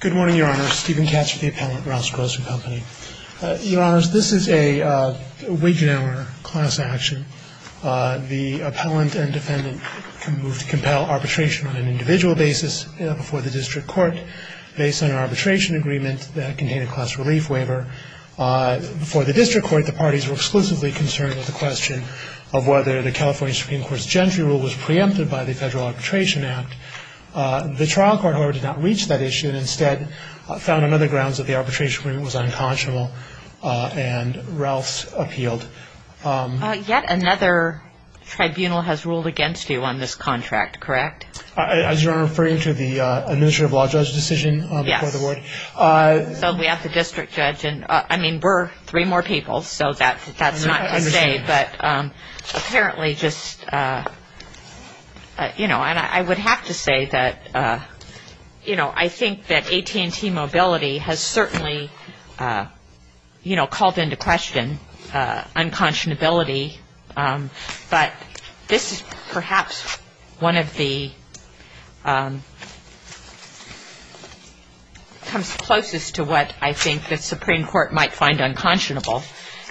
Good morning, Your Honor. Stephen Katz with the appellant, Ralphs Grocery Company. Your Honors, this is a Wiggenauer class action. The appellant and defendant can move to compel arbitration on an individual basis before the district court based on an arbitration agreement that contained a class relief waiver. Before the district court, the parties were exclusively concerned with the question of whether the California Supreme Court's Gentry Rule was preempted by the Federal Arbitration Act. The trial court, however, did not reach that issue and instead found on other grounds that the arbitration agreement was unconscionable and Ralphs appealed. Yet another tribunal has ruled against you on this contract, correct? Is Your Honor referring to the administrative law judge decision before the court? Yes. So we have the district judge and, I mean, we're three more people, so that's not to say. I understand. But apparently just, you know, and I would have to say that, you know, I think that AT&T mobility has certainly, you know, called into question unconscionability, but this is perhaps one of the, comes closest to what I think the Supreme Court might find unconscionable.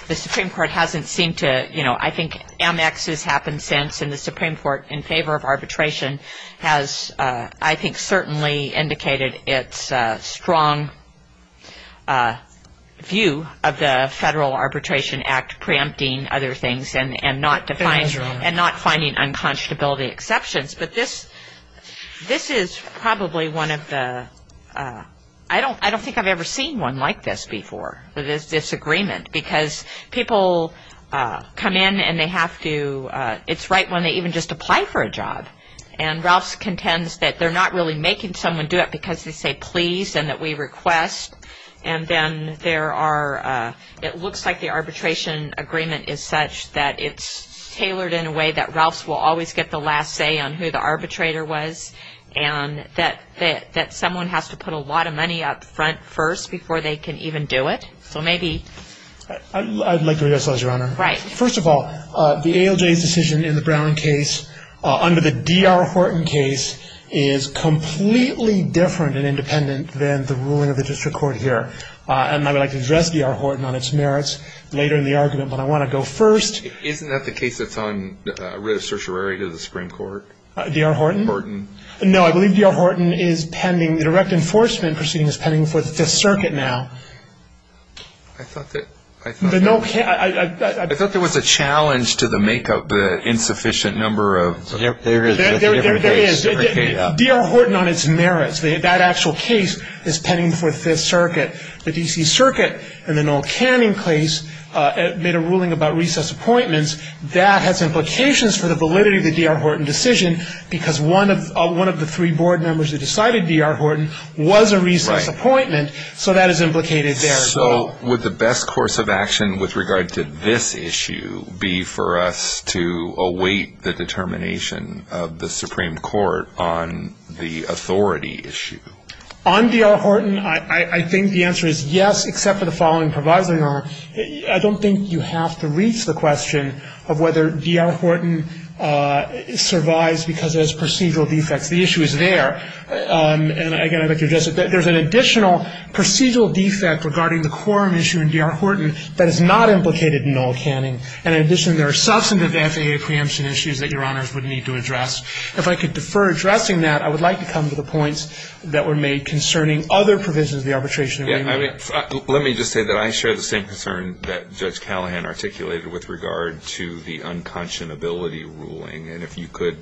The Supreme Court hasn't seemed to, you know, I think Amex has happened since and the Supreme Court in favor of arbitration has, I think, certainly indicated its strong view of the Federal Arbitration Act preempting other things and not finding unconscionability exceptions. But this is probably one of the, I don't think I've ever seen one like this before, this agreement, because people come in and they have to, it's right when they even just apply for a job. And Ralphs contends that they're not really making someone do it because they say please and that we request. And then there are, it looks like the arbitration agreement is such that it's tailored in a way that Ralphs will always get the last say on who the arbitrator was and that someone has to put a lot of money up front first before they can even do it. So maybe. I'd like to reassess, Your Honor. Right. First of all, the ALJ's decision in the Brown case under the D.R. Horton case is completely different and independent than the ruling of the district court here. And I would like to address D.R. Horton on its merits later in the argument, but I want to go first. Isn't that the case that's on writ of certiorari to the Supreme Court? D.R. Horton? Horton. No, I believe D.R. Horton is pending, the direct enforcement proceeding is pending before the Fifth Circuit now. I thought that, I thought. I thought there was a challenge to the make of the insufficient number of. There is. There is. D.R. Horton on its merits. That actual case is pending before the Fifth Circuit. The D.C. Circuit in the Noel Canning case made a ruling about recess appointments. That has implications for the validity of the D.R. Horton decision, because one of the three board members that decided D.R. Horton was a recess appointment. Right. So that is implicated there as well. So would the best course of action with regard to this issue be for us to await the determination of the Supreme Court on the authority issue? On D.R. Horton, I think the answer is yes, except for the following, Proviso, Your Honor. I don't think you have to reach the question of whether D.R. Horton survives because it has procedural defects. The issue is there. And, again, I'd like to address it. There's an additional procedural defect regarding the quorum issue in D.R. Horton that is not implicated in Noel Canning. And, in addition, there are substantive FAA preemption issues that Your Honors would need to address. If I could defer addressing that, I would like to come to the points that were made concerning other provisions of the arbitration. Let me just say that I share the same concern that Judge Callahan articulated with regard to the unconscionability ruling. And if you could.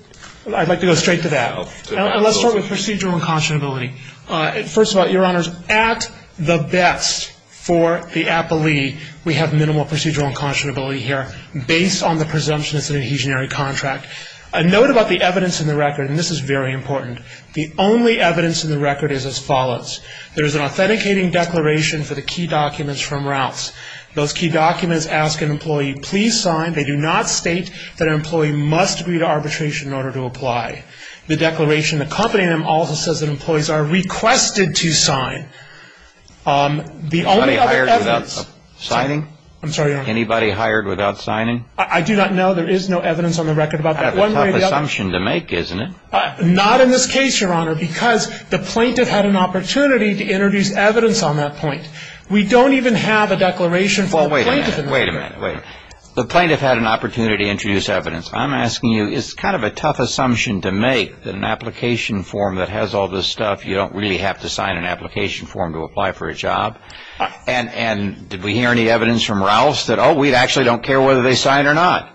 I'd like to go straight to that. And let's start with procedural unconscionability. First of all, Your Honors, at the best for the appellee, we have minimal procedural unconscionability here based on the presumption it's an adhesionary contract. A note about the evidence in the record, and this is very important. The only evidence in the record is as follows. There is an authenticating declaration for the key documents from Routes. Those key documents ask an employee, please sign. They do not state that an employee must agree to arbitration in order to apply. The declaration accompanying them also says that employees are requested to sign. The only other evidence. Anybody hired without signing? I'm sorry, Your Honor. Anybody hired without signing? I do not know. There is no evidence on the record about that. That's a tough assumption to make, isn't it? Not in this case, Your Honor, because the plaintiff had an opportunity to introduce evidence on that point. We don't even have a declaration for the plaintiff. Well, wait a minute. Wait a minute. The plaintiff had an opportunity to introduce evidence. I'm asking you, is it kind of a tough assumption to make that an application form that has all this stuff, you don't really have to sign an application form to apply for a job? And did we hear any evidence from Routes that, oh, we actually don't care whether they signed or not?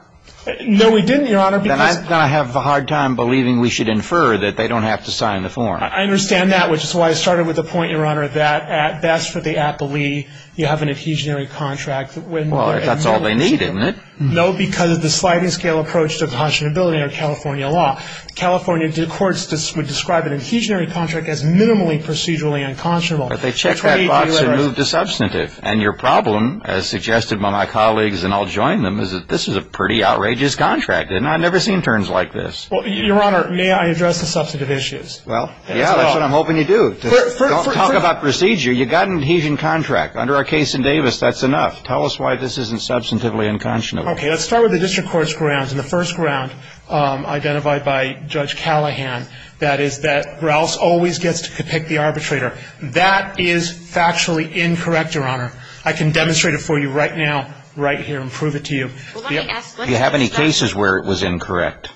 No, we didn't, Your Honor. Then I'm going to have a hard time believing we should infer that they don't have to sign the form. I understand that, which is why I started with the point, Your Honor, that at best for the appellee you have an adhesionary contract. Well, if that's all they need, isn't it? No, because of the sliding scale approach to conscionability under California law. California courts would describe an adhesionary contract as minimally procedurally unconscionable. But they checked that box and moved to substantive. And your problem, as suggested by my colleagues and I'll join them, is that this is a pretty outrageous contract. And I've never seen terms like this. Your Honor, may I address the substantive issues? Well, yeah, that's what I'm hoping you do. Don't talk about procedure. You've got an adhesion contract. Under our case in Davis, that's enough. Tell us why this isn't substantively unconscionable. Okay. Let's start with the district court's grounds. And the first ground identified by Judge Callahan, that is that Grouse always gets to pick the arbitrator. That is factually incorrect, Your Honor. I can demonstrate it for you right now, right here, and prove it to you. Do you have any cases where it was incorrect?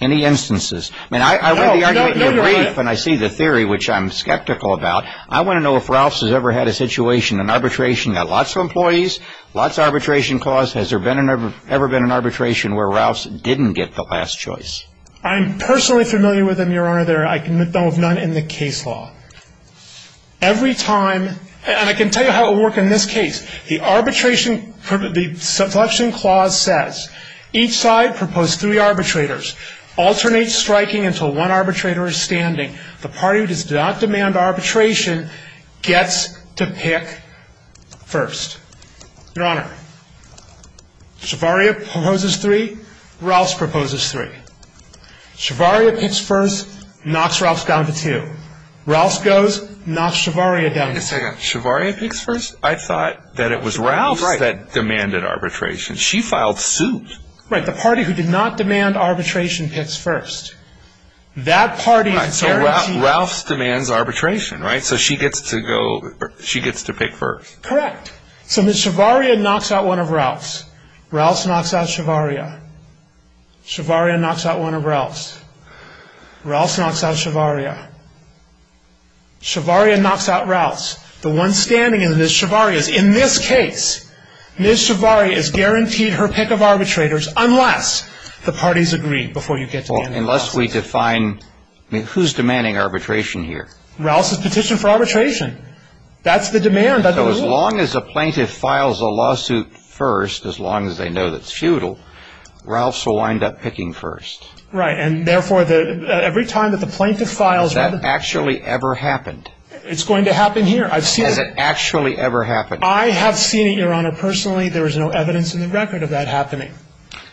Any instances? I mean, I read the argument in the brief and I see the theory, which I'm skeptical about. I want to know if Grouse has ever had a situation, an arbitration, got lots of employees, lots of arbitration clause. Has there ever been an arbitration where Grouse didn't get the last choice? I'm personally familiar with them, Your Honor. They're, I can admit, none in the case law. Every time, and I can tell you how it will work in this case. The arbitration, the subsection clause says, each side proposed three arbitrators. Alternate striking until one arbitrator is standing. The party who does not demand arbitration gets to pick first. Your Honor, Shavaria proposes three, Grouse proposes three. Shavaria picks first, knocks Grouse down to two. Wait a second, Shavaria picks first? I thought that it was Grouse that demanded arbitration. She filed suit. Right, the party who did not demand arbitration picks first. That party guarantees. Right, so Grouse demands arbitration, right? So she gets to go, she gets to pick first. Correct. So then Shavaria knocks out one of Grouse. Grouse knocks out Shavaria. Shavaria knocks out one of Grouse. Grouse knocks out Shavaria. Shavaria knocks out Grouse. The one standing is Ms. Shavaria's. In this case, Ms. Shavaria is guaranteed her pick of arbitrators unless the parties agree before you get to demanding arbitration. Unless we define, I mean, who's demanding arbitration here? Grouse has petitioned for arbitration. That's the demand. So as long as a plaintiff files a lawsuit first, as long as they know that's futile, Grouse will wind up picking first. Right, and therefore every time that the plaintiff files a lawsuit. Has that actually ever happened? It's going to happen here. Has it actually ever happened? I have seen it, Your Honor. Personally, there is no evidence in the record of that happening.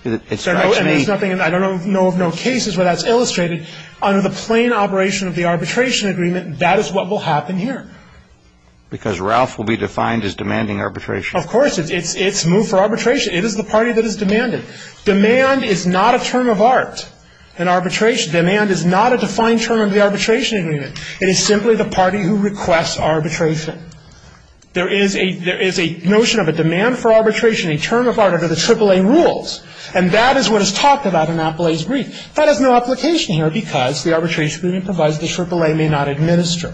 And there's nothing, I don't know of no cases where that's illustrated. Under the plain operation of the arbitration agreement, that is what will happen here. Because Ralph will be defined as demanding arbitration. Of course. It's move for arbitration. It is the party that has demanded. Demand is not a term of art in arbitration. Demand is not a defined term of the arbitration agreement. It is simply the party who requests arbitration. There is a notion of a demand for arbitration, a term of art under the AAA rules. And that is what is talked about in Appellee's brief. That has no application here because the arbitration agreement provides the AAA may not administer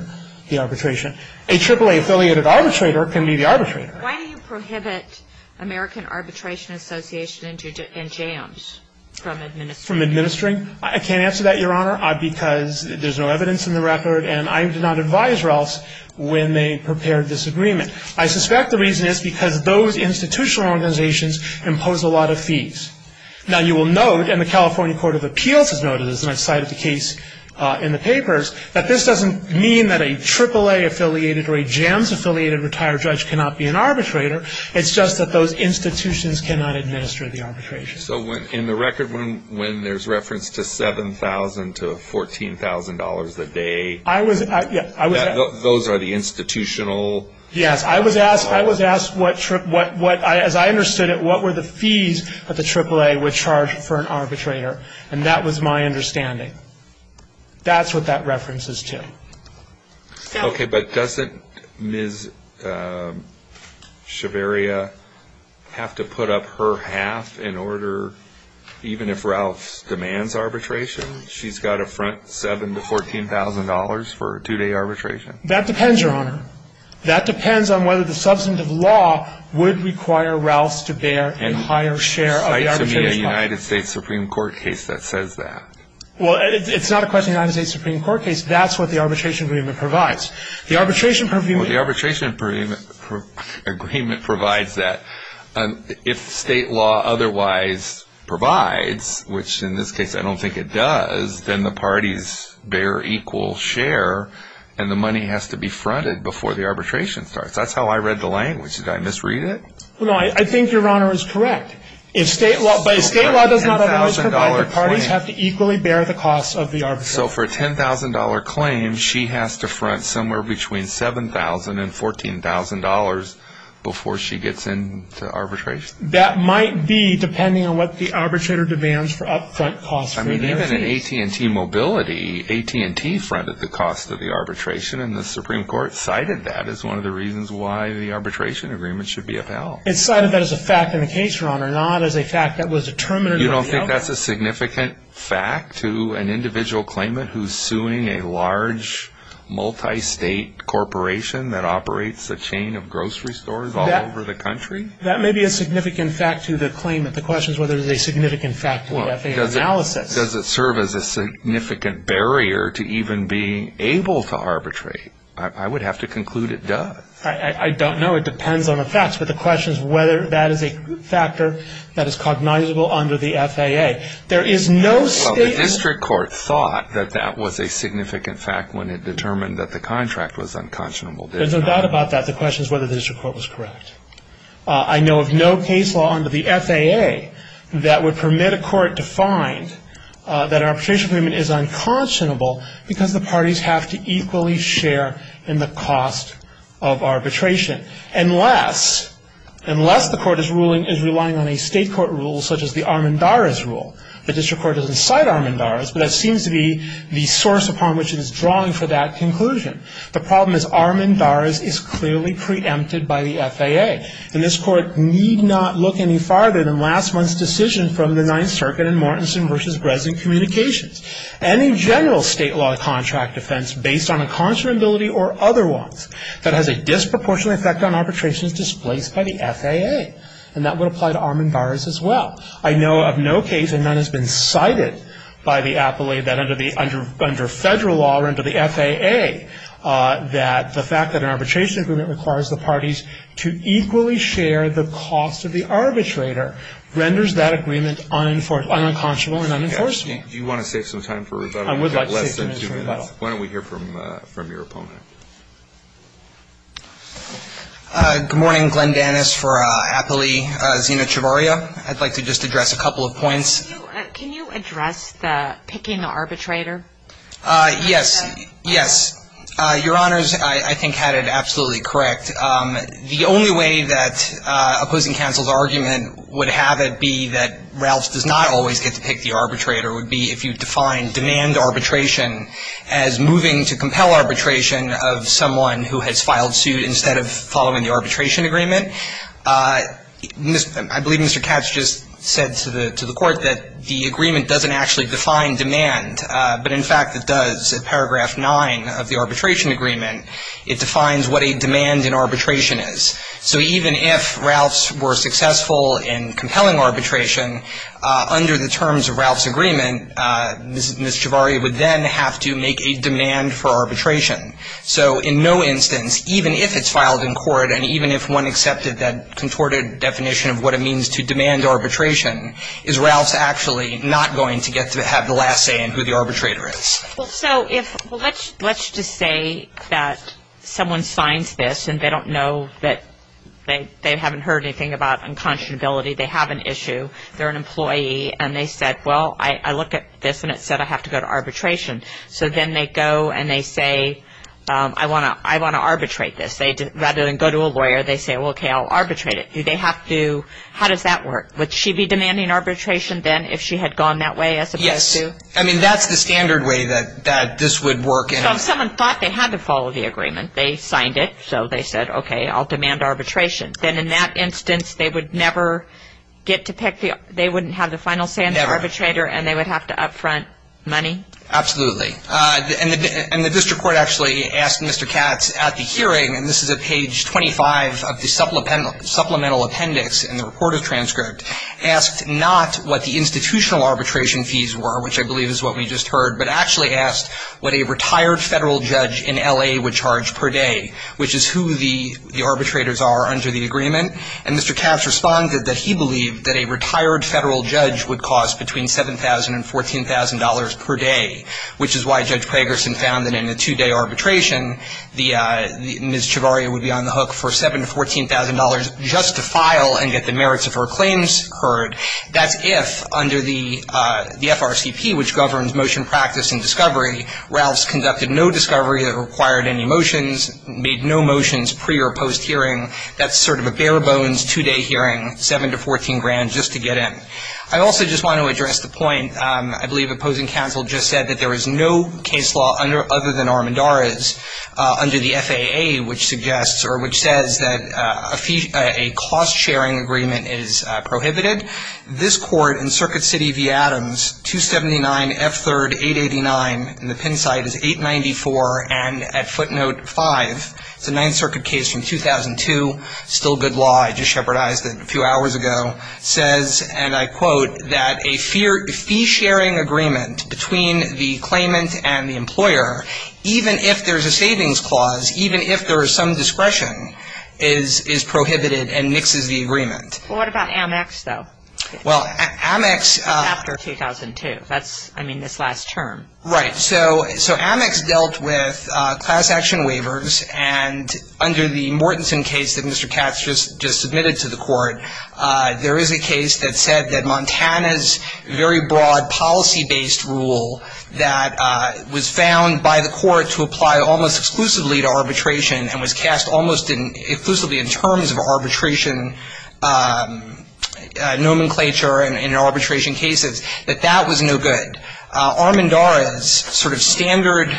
the arbitration. A AAA-affiliated arbitrator can be the arbitrator. Why do you prohibit American Arbitration Association and JAMS from administering? From administering? I can't answer that, Your Honor, because there's no evidence in the record. And I did not advise Ralph's when they prepared this agreement. I suspect the reason is because those institutional organizations impose a lot of fees. Now, you will note, and the California Court of Appeals has noted, and I cited the case in the papers, that this doesn't mean that a AAA-affiliated or a JAMS-affiliated retired judge cannot be an arbitrator. It's just that those institutions cannot administer the arbitration. So in the record when there's reference to $7,000 to $14,000 a day, those are the institutional? Yes. I was asked what, as I understood it, what were the fees that the AAA would charge for an arbitrator. And that was my understanding. That's what that reference is to. Okay. But doesn't Ms. Shaveria have to put up her half in order, even if Ralph's demands arbitration? She's got a front $7,000 to $14,000 for a two-day arbitration. That depends, Your Honor. That depends on whether the substantive law would require Ralph's to bear a higher share of the arbitration. And cite to me a United States Supreme Court case that says that. Well, it's not a question of a United States Supreme Court case. That's what the arbitration agreement provides. The arbitration agreement provides that. If state law otherwise provides, which in this case I don't think it does, then the parties bear equal share and the money has to be fronted before the arbitration starts. That's how I read the language. Did I misread it? No, I think Your Honor is correct. If state law does not allow us to provide, the parties have to equally bear the costs of the arbitration. So for a $10,000 claim, she has to front somewhere between $7,000 and $14,000 before she gets into arbitration? That might be, depending on what the arbitrator demands for up-front costs. I mean, even in AT&T mobility, AT&T fronted the cost of the arbitration, and the Supreme Court cited that as one of the reasons why the arbitration agreement should be upheld. It cited that as a fact in the case, Your Honor, not as a fact that was determined in the appeal. You don't think that's a significant fact to an individual claimant who's suing a large, multi-state corporation that operates a chain of grocery stores all over the country? That may be a significant fact to the claimant. The question is whether it is a significant fact to the FAA analysis. Does it serve as a significant barrier to even being able to arbitrate? I would have to conclude it does. I don't know. It depends on the facts. But the question is whether that is a factor that is cognizable under the FAA. There is no state law. Well, the district court thought that that was a significant fact when it determined that the contract was unconscionable. There's no doubt about that. The question is whether the district court was correct. I know of no case law under the FAA that would permit a court to find that an arbitration agreement is unconscionable because the parties have to equally share in the cost of arbitration, unless the court is relying on a state court rule such as the Armendariz rule. The district court doesn't cite Armendariz, but that seems to be the source upon which it is drawing for that conclusion. The problem is Armendariz is clearly preempted by the FAA, and this court need not look any farther than last month's decision from the Ninth Circuit in Mortensen v. Bresen communications. Any general state law contract defense based on unconscionability or otherwise that has a disproportionate effect on arbitration is displaced by the FAA, and that would apply to Armendariz as well. I know of no case, and none has been cited by the appellee, that under federal law or under the FAA, that the fact that an arbitration agreement requires the parties to equally share the cost of the arbitrator renders that agreement unconscionable and unenforceable. Thank you. Do you want to save some time for rebuttal? I would like to save some time for rebuttal. Why don't we hear from your opponent? Good morning. Glenn Dannis for appellee Zina Chavarria. I'd like to just address a couple of points. Can you address the picking the arbitrator? Yes. Yes. Your Honors, I think had it absolutely correct. The only way that opposing counsel's argument would have it be that Ralphs does not always get to pick the arbitrator would be if you define demand arbitration as moving to compel arbitration of someone who has filed suit instead of following the arbitration agreement. I believe Mr. Katz just said to the Court that the agreement doesn't actually define demand, but in fact it does. Paragraph 9 of the arbitration agreement, it defines what a demand in arbitration is. So even if Ralphs were successful in compelling arbitration, under the terms of Ralphs' agreement, Ms. Chavarria would then have to make a demand for arbitration. So in no instance, even if it's filed in court, and even if one accepted that contorted definition of what it means to demand arbitration, is Ralphs actually not going to get to have the last say in who the arbitrator is? So let's just say that someone signs this and they don't know that they haven't heard anything about unconscionability. They have an issue. They're an employee and they said, well, I look at this and it said I have to go to arbitration. So then they go and they say, I want to arbitrate this. Rather than go to a lawyer, they say, well, okay, I'll arbitrate it. Do they have to? How does that work? Would she be demanding arbitration then if she had gone that way as opposed to? I mean, that's the standard way that this would work. So someone thought they had to follow the agreement. They signed it, so they said, okay, I'll demand arbitration. Then in that instance, they would never get to pick the – they wouldn't have the final say in the arbitrator and they would have to up front money? Absolutely. And the district court actually asked Mr. Katz at the hearing, and this is at page 25 of the supplemental appendix in the report of transcript, asked not what the institutional arbitration fees were, which I believe is what we just heard, but actually asked what a retired federal judge in L.A. would charge per day, which is who the arbitrators are under the agreement. And Mr. Katz responded that he believed that a retired federal judge would cost between $7,000 and $14,000 per day, which is why Judge Pragerson found that in a two-day arbitration, Ms. Chevarria would be on the hook for $7,000 to $14,000 just to file and get the merits of her claims heard. That's if, under the FRCP, which governs motion practice and discovery, Ralphs conducted no discovery that required any motions, made no motions pre- or post-hearing. That's sort of a bare-bones two-day hearing, $7,000 to $14,000 just to get in. I also just want to address the point, I believe opposing counsel just said, that there is no case law other than Armendariz under the FAA, which suggests or which says that a cost-sharing agreement is prohibited. This court in Circuit City v. Adams, 279 F. 3rd, 889, and the pen site is 894, and at footnote 5, it's a Ninth Circuit case from 2002, still good law, I just shepherdized it a few hours ago, says, and I quote, that a fee-sharing agreement between the claimant and the employer, even if there's a savings clause, even if there is some discretion, is prohibited and mixes the agreement. Well, what about Amex, though? Well, Amex. After 2002. That's, I mean, this last term. Right. So Amex dealt with class action waivers, and under the Mortenson case that Mr. Katz just submitted to the court, there is a case that said that Montana's very broad policy-based rule that was found by the court to apply almost exclusively to arbitration and was cast almost exclusively in terms of arbitration nomenclature in arbitration cases, that that was no good. Armendariz's sort of standard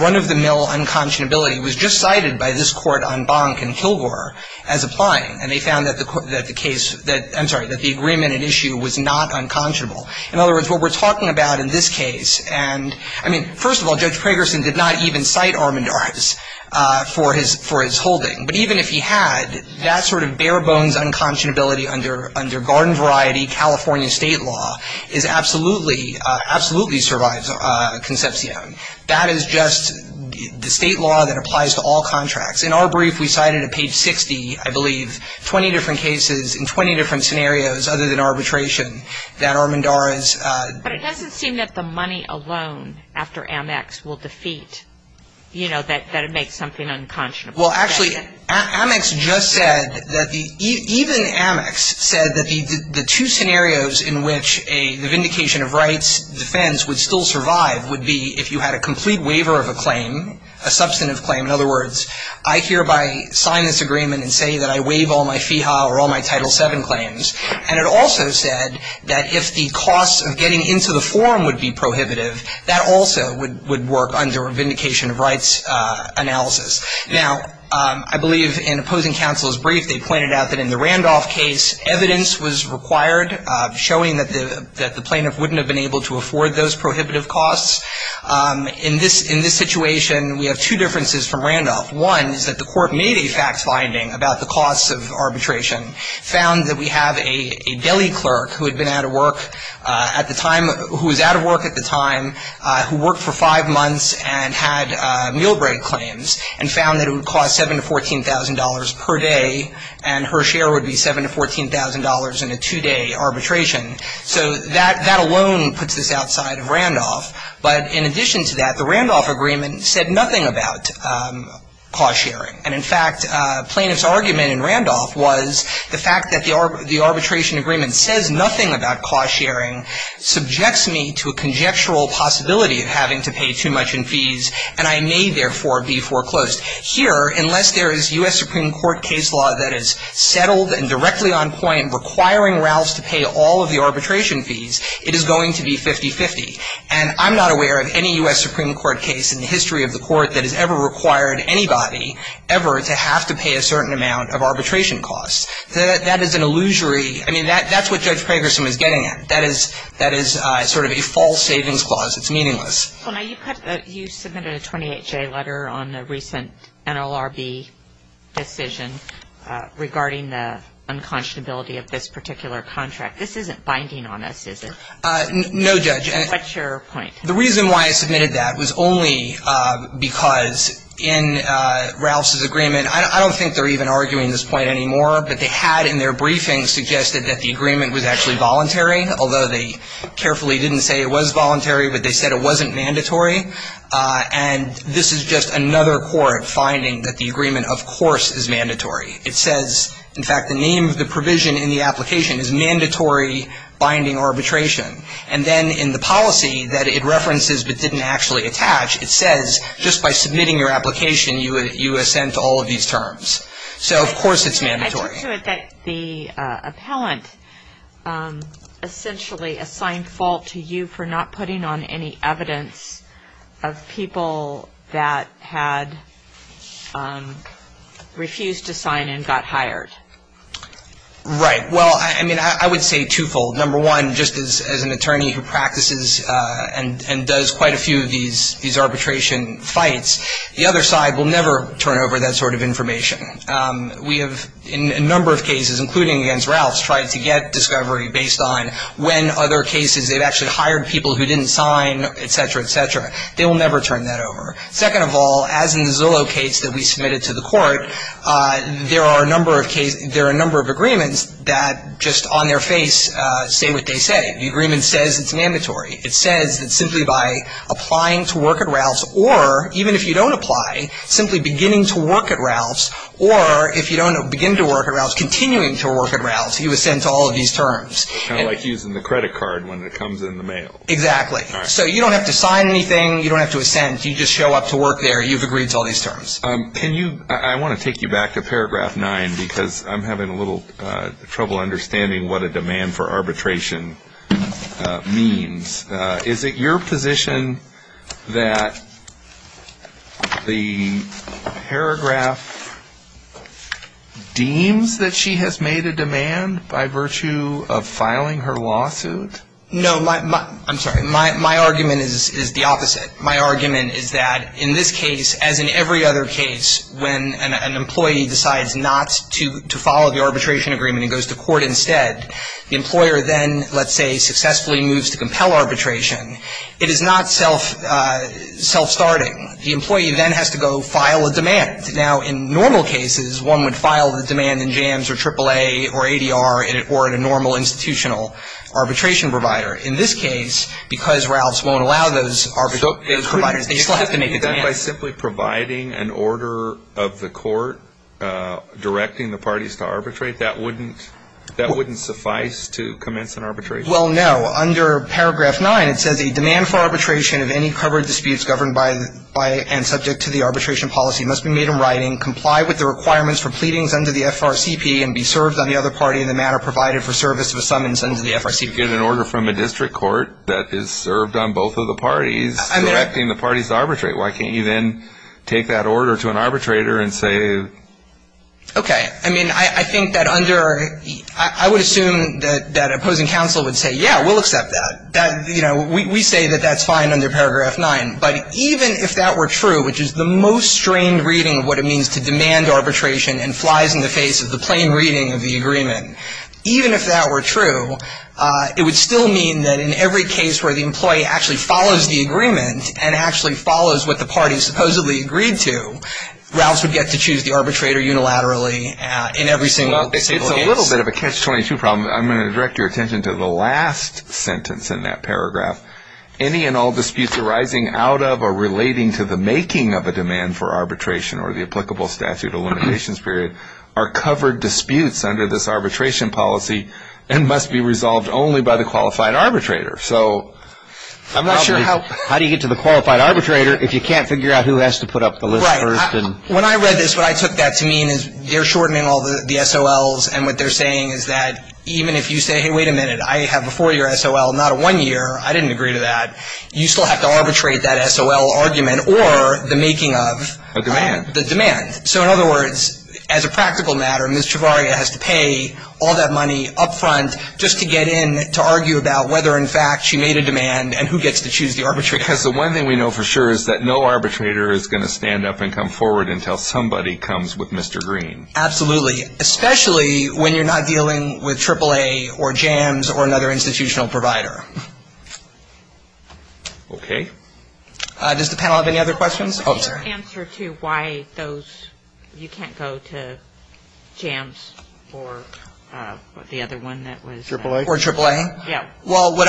run-of-the-mill unconscionability was just cited by this court on Bonk and Kilgore as applying, and they found that the case that, I'm sorry, that the agreement at issue was not unconscionable. In other words, what we're talking about in this case, and, I mean, first of all, Judge Pragerson did not even cite Armendariz for his holding. But even if he had, that sort of bare-bones unconscionability under garden-variety California state law is absolutely, absolutely survives Concepcion. That is just the state law that applies to all contracts. In our brief, we cited at page 60, I believe, 20 different cases in 20 different scenarios other than arbitration that Armendariz But it doesn't seem that the money alone after Amex will defeat, you know, that it makes something unconscionable. Well, actually, Amex just said that the, even Amex said that the two scenarios in which a vindication of rights defense would still survive would be if you had a complete waiver of a claim, a substantive claim. In other words, I hereby sign this agreement and say that I waive all my FEHA or all my Title VII claims. And it also said that if the cost of getting into the forum would be prohibitive, that also would work under a vindication of rights analysis. Now, I believe in opposing counsel's brief, they pointed out that in the Randolph case, evidence was required, showing that the plaintiff wouldn't have been able to afford those prohibitive costs. In this situation, we have two differences from Randolph. One is that the court made a fact finding about the costs of arbitration, found that we have a deli clerk who had been out of work at the time, who was out of work at the time, who worked for five months and had meal break claims, and found that it would cost $7,000 to $14,000 per day, and her share would be $7,000 to $14,000 in a two-day arbitration. So that alone puts this outside of Randolph. But in addition to that, the Randolph agreement said nothing about cost sharing. And in fact, plaintiff's argument in Randolph was the fact that the arbitration agreement says nothing about cost sharing subjects me to a conjectural possibility of having to pay too much in fees, and I may therefore be foreclosed. Here, unless there is U.S. Supreme Court case law that is settled and directly on point requiring Ralphs to pay all of the arbitration fees, it is going to be 50-50. And I'm not aware of any U.S. Supreme Court case in the history of the Court that has ever required anybody ever to have to pay a certain amount of arbitration costs. That is an illusory – I mean, that's what Judge Kragerson is getting at. That is sort of a false savings clause. It's meaningless. Well, now, you submitted a 28-J letter on the recent NLRB decision regarding the unconscionability of this particular contract. This isn't binding on us, is it? No, Judge. What's your point? The reason why I submitted that was only because in Ralphs' agreement – I don't think they're even arguing this point anymore, but they had in their briefing suggested that the agreement was actually voluntary, although they carefully didn't say it was voluntary, but they said it wasn't mandatory. And this is just another court finding that the agreement, of course, is mandatory. It says, in fact, the name of the provision in the application is mandatory binding arbitration. And then in the policy that it references but didn't actually attach, it says, just by submitting your application, you assent all of these terms. So, of course, it's mandatory. I took to it that the appellant essentially assigned fault to you for not putting on any evidence of people that had refused to sign and got hired. Right. Well, I mean, I would say twofold. Number one, just as an attorney who practices and does quite a few of these arbitration fights, the other side will never turn over that sort of information. We have, in a number of cases, including against Ralphs, tried to get discovery based on when other cases they've actually hired people who didn't sign, et cetera, et cetera. They will never turn that over. Second of all, as in the Zillow case that we submitted to the court, there are a number of agreements that just on their face say what they say. The agreement says it's mandatory. It says that simply by applying to work at Ralphs or, even if you don't apply, simply beginning to work at Ralphs or, if you don't begin to work at Ralphs, continuing to work at Ralphs, you ascend to all of these terms. Kind of like using the credit card when it comes in the mail. Exactly. So you don't have to sign anything. You don't have to ascend. You just show up to work there. You've agreed to all these terms. Can you ‑‑ I want to take you back to paragraph nine because I'm having a little trouble understanding what a demand for arbitration means. Is it your position that the paragraph deems that she has made a demand by virtue of filing her lawsuit? No. I'm sorry. My argument is the opposite. My argument is that in this case, as in every other case, when an employee decides not to follow the arbitration agreement and goes to court instead, the arbitration, it is not self‑starting. The employee then has to go file a demand. Now, in normal cases, one would file the demand in JAMS or AAA or ADR or in a normal institutional arbitration provider. In this case, because Ralphs won't allow those providers, they still have to make a demand. By simply providing an order of the court directing the parties to arbitrate, that wouldn't suffice to commence an arbitration? Well, no. Under paragraph nine, it says a demand for arbitration of any covered disputes governed by and subject to the arbitration policy must be made in writing, comply with the requirements for pleadings under the FRCP, and be served on the other party in the manner provided for service of a summons under the FRCP. You get an order from a district court that is served on both of the parties directing the parties to arbitrate. Why can't you then take that order to an arbitrator and say ‑‑ Okay. I mean, I think that under ‑‑ I would assume that opposing counsel would say, yeah, we'll accept that. You know, we say that that's fine under paragraph nine. But even if that were true, which is the most strained reading of what it means to demand arbitration and flies in the face of the plain reading of the agreement, even if that were true, it would still mean that in every case where the employee actually follows the agreement and actually follows what the parties supposedly agreed to, Ralphs would get to choose the arbitrator unilaterally in every single case. Well, it's a little bit of a catch-22 problem. I'm going to direct your attention to the last sentence in that paragraph. Any and all disputes arising out of or relating to the making of a demand for arbitration or the applicable statute of limitations period are covered disputes under this arbitration policy and must be resolved only by the qualified arbitrator. So I'm not sure how you get to the qualified arbitrator if you can't figure out who has to put up the list first. Right. When I read this, what I took that to mean is they're shortening all the SOLs and what they're saying is that even if you say, hey, wait a minute, I have a four-year SOL, not a one-year, I didn't agree to that, you still have to arbitrate that SOL argument or the making of the demand. So in other words, as a practical matter, Ms. Chevarria has to pay all that money up front just to get in to argue about whether in fact she made a demand and who gets to choose the arbitrator. Because the one thing we know for sure is that no arbitrator is going to stand up and come forward and tell somebody comes with Mr. Green. Absolutely. Especially when you're not dealing with AAA or JAMS or another institutional provider. Okay. Does the panel have any other questions? Oh, I'm sorry. Do you have an answer to why those, you can't go to JAMS or the other one that was? AAA? Or AAA? Yeah. Well, what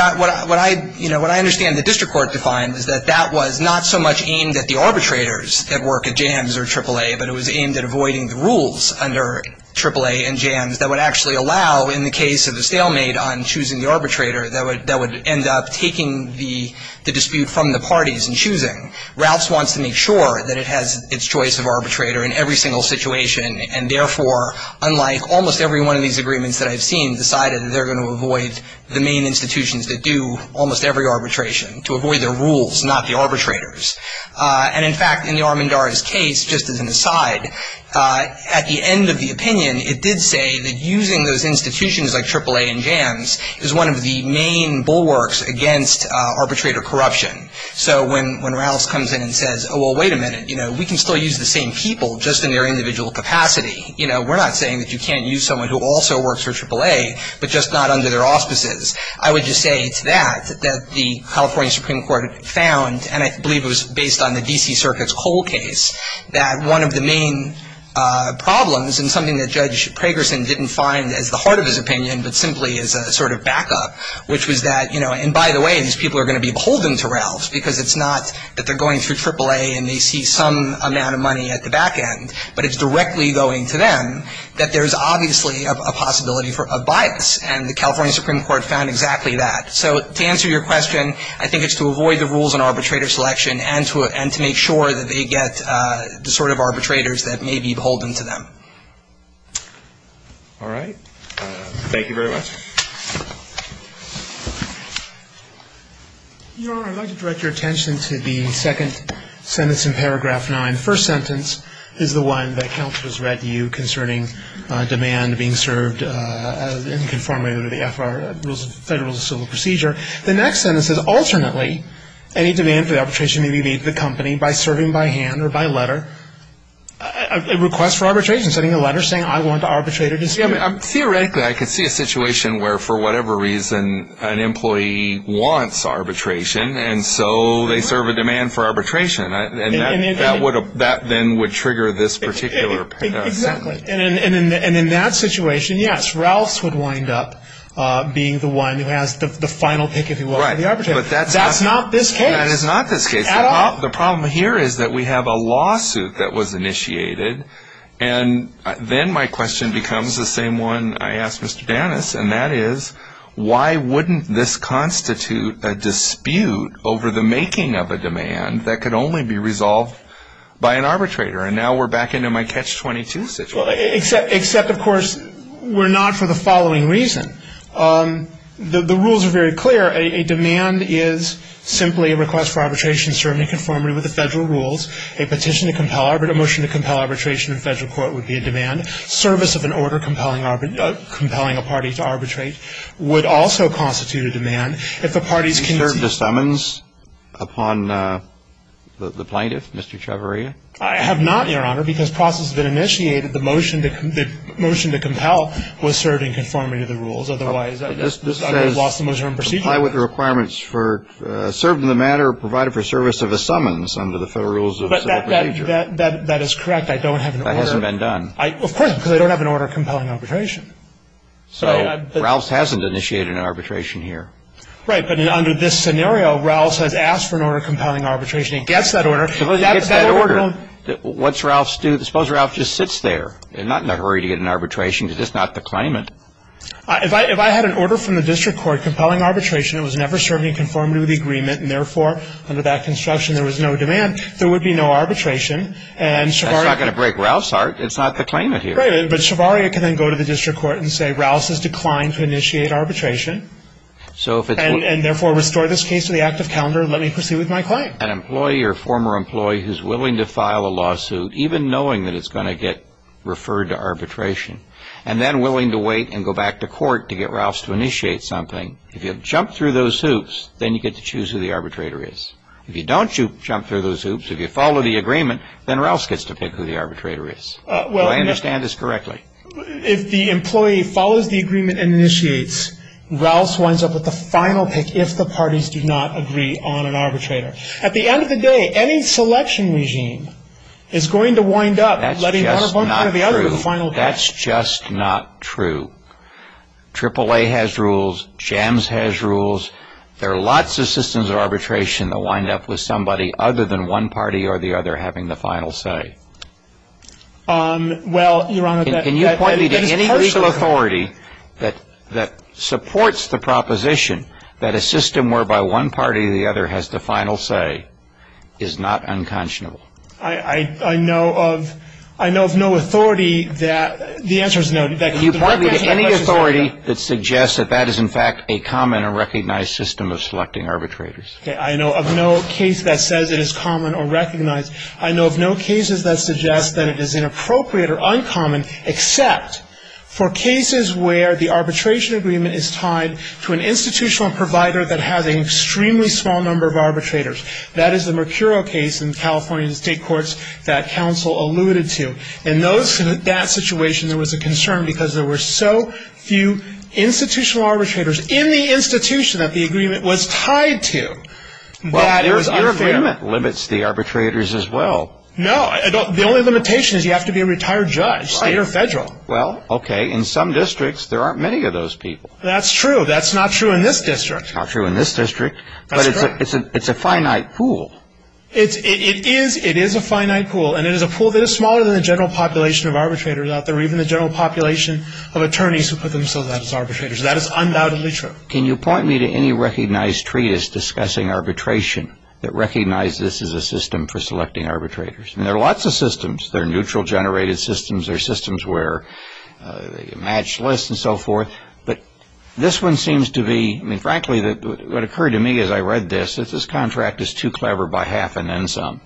I understand the district court defined is that that was not so much aimed at the arbitrators that work at JAMS or AAA, but it was aimed at avoiding the rules under AAA and JAMS that would actually allow in the case of the stalemate on choosing the arbitrator that would end up taking the dispute from the parties and choosing. Ralphs wants to make sure that it has its choice of arbitrator in every single situation and therefore, unlike almost every one of these agreements that I've seen, decided that they're going to avoid the main institutions that do almost every arbitration to avoid their rules, not the arbitrators. And, in fact, in the Armendariz case, just as an aside, at the end of the opinion, it did say that using those institutions like AAA and JAMS is one of the main bulwarks against arbitrator corruption. So when Ralphs comes in and says, oh, well, wait a minute, we can still use the same people just in their individual capacity. You know, we're not saying that you can't use someone who also works for AAA, but just not under their auspices. I would just say it's that, that the California Supreme Court found, and I believe it was based on the D.C. Circuit's Cole case, that one of the main problems and something that Judge Pragerson didn't find as the heart of his opinion but simply as a sort of backup, which was that, you know, and by the way, these people are going to be beholden to Ralphs because it's not that they're going through AAA and they see some amount of money at the back end, but it's directly going to them, that there's obviously a possibility of bias, and the California Supreme Court found exactly that. So to answer your question, I think it's to avoid the rules on arbitrator selection and to make sure that they get the sort of arbitrators that may be beholden to them. All right. Thank you very much. Your Honor, I'd like to direct your attention to the second sentence in paragraph 9. The first sentence is the one that counsel has read to you concerning demand being served in conformity with the F.R. Rules of Federal and Civil Procedure. The next sentence says, alternately, any demand for arbitration may be made to the company by serving by hand or by letter, a request for arbitration, sending a letter saying I want to arbitrate a dispute. Theoretically, I could see a situation where, for whatever reason, an employee wants arbitration, and so they serve a demand for arbitration. And that then would trigger this particular sentence. Exactly. And in that situation, yes, Ralphs would wind up being the one who has the final pick, if you will, for the arbitrator. But that's not this case. That is not this case. The problem here is that we have a lawsuit that was initiated, and then my question becomes the same one I asked Mr. Danis, and that is why wouldn't this constitute a dispute over the making of a demand that could only be resolved by an arbitrator? And now we're back into my catch-22 situation. Except, of course, we're not for the following reason. The rules are very clear. A demand is simply a request for arbitration served in conformity with the F.R. Rules, a petition to compel arbitration, a motion to compel arbitration in federal court would be a demand. Service of an order compelling a party to arbitrate would also constitute a demand. If the parties can see to it. Have you served a summons upon the plaintiff, Mr. Chavarria? I have not, Your Honor, because process has been initiated. The motion to compel was served in conformity to the rules. Otherwise, I would have lost the most important procedure. I comply with the requirements for serving the matter provided for service of a summons under the Federal Rules of Civil Procedure. That is correct. I don't have an order. That hasn't been done. Of course, because I don't have an order compelling arbitration. So Ralphs hasn't initiated an arbitration here. Right. But under this scenario, Ralphs has asked for an order compelling arbitration. He gets that order. He gets that order. What's Ralphs do? Suppose Ralphs just sits there, not in a hurry to get an arbitration, just not to claim it. If I had an order from the district court compelling arbitration that was never served in conformity with the agreement and, therefore, under that construction there was no demand, there would be no arbitration. That's not going to break Ralphs' heart. It's not the claimant here. Right. But Chavarria can then go to the district court and say Ralphs has declined to initiate arbitration. And, therefore, restore this case to the active calendar and let me proceed with my claim. An employee or former employee who's willing to file a lawsuit, even knowing that it's going to get referred to arbitration, and then willing to wait and go back to court to get Ralphs to initiate something, if you jump through those hoops, then you get to choose who the arbitrator is. If you don't jump through those hoops, if you follow the agreement, then Ralphs gets to pick who the arbitrator is. Do I understand this correctly? Well, if the employee follows the agreement and initiates, Ralphs winds up with the final pick if the parties do not agree on an arbitrator. At the end of the day, any selection regime is going to wind up letting one opponent or the other get the final pick. That's just not true. AAA has rules. JAMS has rules. There are lots of systems of arbitration that wind up with somebody other than one party or the other having the final say. Well, Your Honor, that is partially correct. Can you point me to any legal authority that supports the proposition that a system whereby one party or the other has the final say is not unconscionable? I know of no authority that the answer is no. Can you point me to any authority that suggests that that is, in fact, a common or recognized system of selecting arbitrators? I know of no case that says it is common or recognized. I know of no cases that suggest that it is inappropriate or uncommon, except for cases where the arbitration agreement is tied to an institutional provider that has an extremely small number of arbitrators. That is the Mercuro case in California State Courts that counsel alluded to. In that situation, there was a concern because there were so few institutional arbitrators in the institution that the agreement was tied to. Your agreement limits the arbitrators as well. No. The only limitation is you have to be a retired judge, state or federal. Well, okay. In some districts, there aren't many of those people. That's true. That's not true in this district. Not true in this district. That's correct. But it's a finite pool. It is a finite pool. And it is a pool that is smaller than the general population of arbitrators out there or even the general population of attorneys who put themselves out as arbitrators. That is undoubtedly true. Can you point me to any recognized treatise discussing arbitration that recognizes this as a system for selecting arbitrators? There are lots of systems. There are neutral-generated systems. There are systems where you match lists and so forth. But this one seems to be, I mean, frankly, what occurred to me as I read this, is this contract is too clever by half and then some.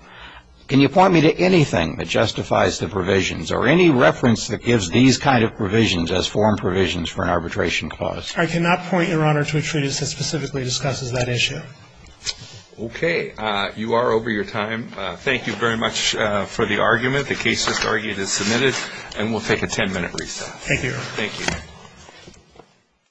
Can you point me to anything that justifies the provisions or any reference that gives these kind of provisions as foreign provisions for an arbitration clause? I cannot point, Your Honor, to a treatise that specifically discusses that issue. Okay. You are over your time. Thank you very much for the argument. The case just argued is submitted, and we'll take a ten-minute recess. Thank you, Your Honor. Thank you.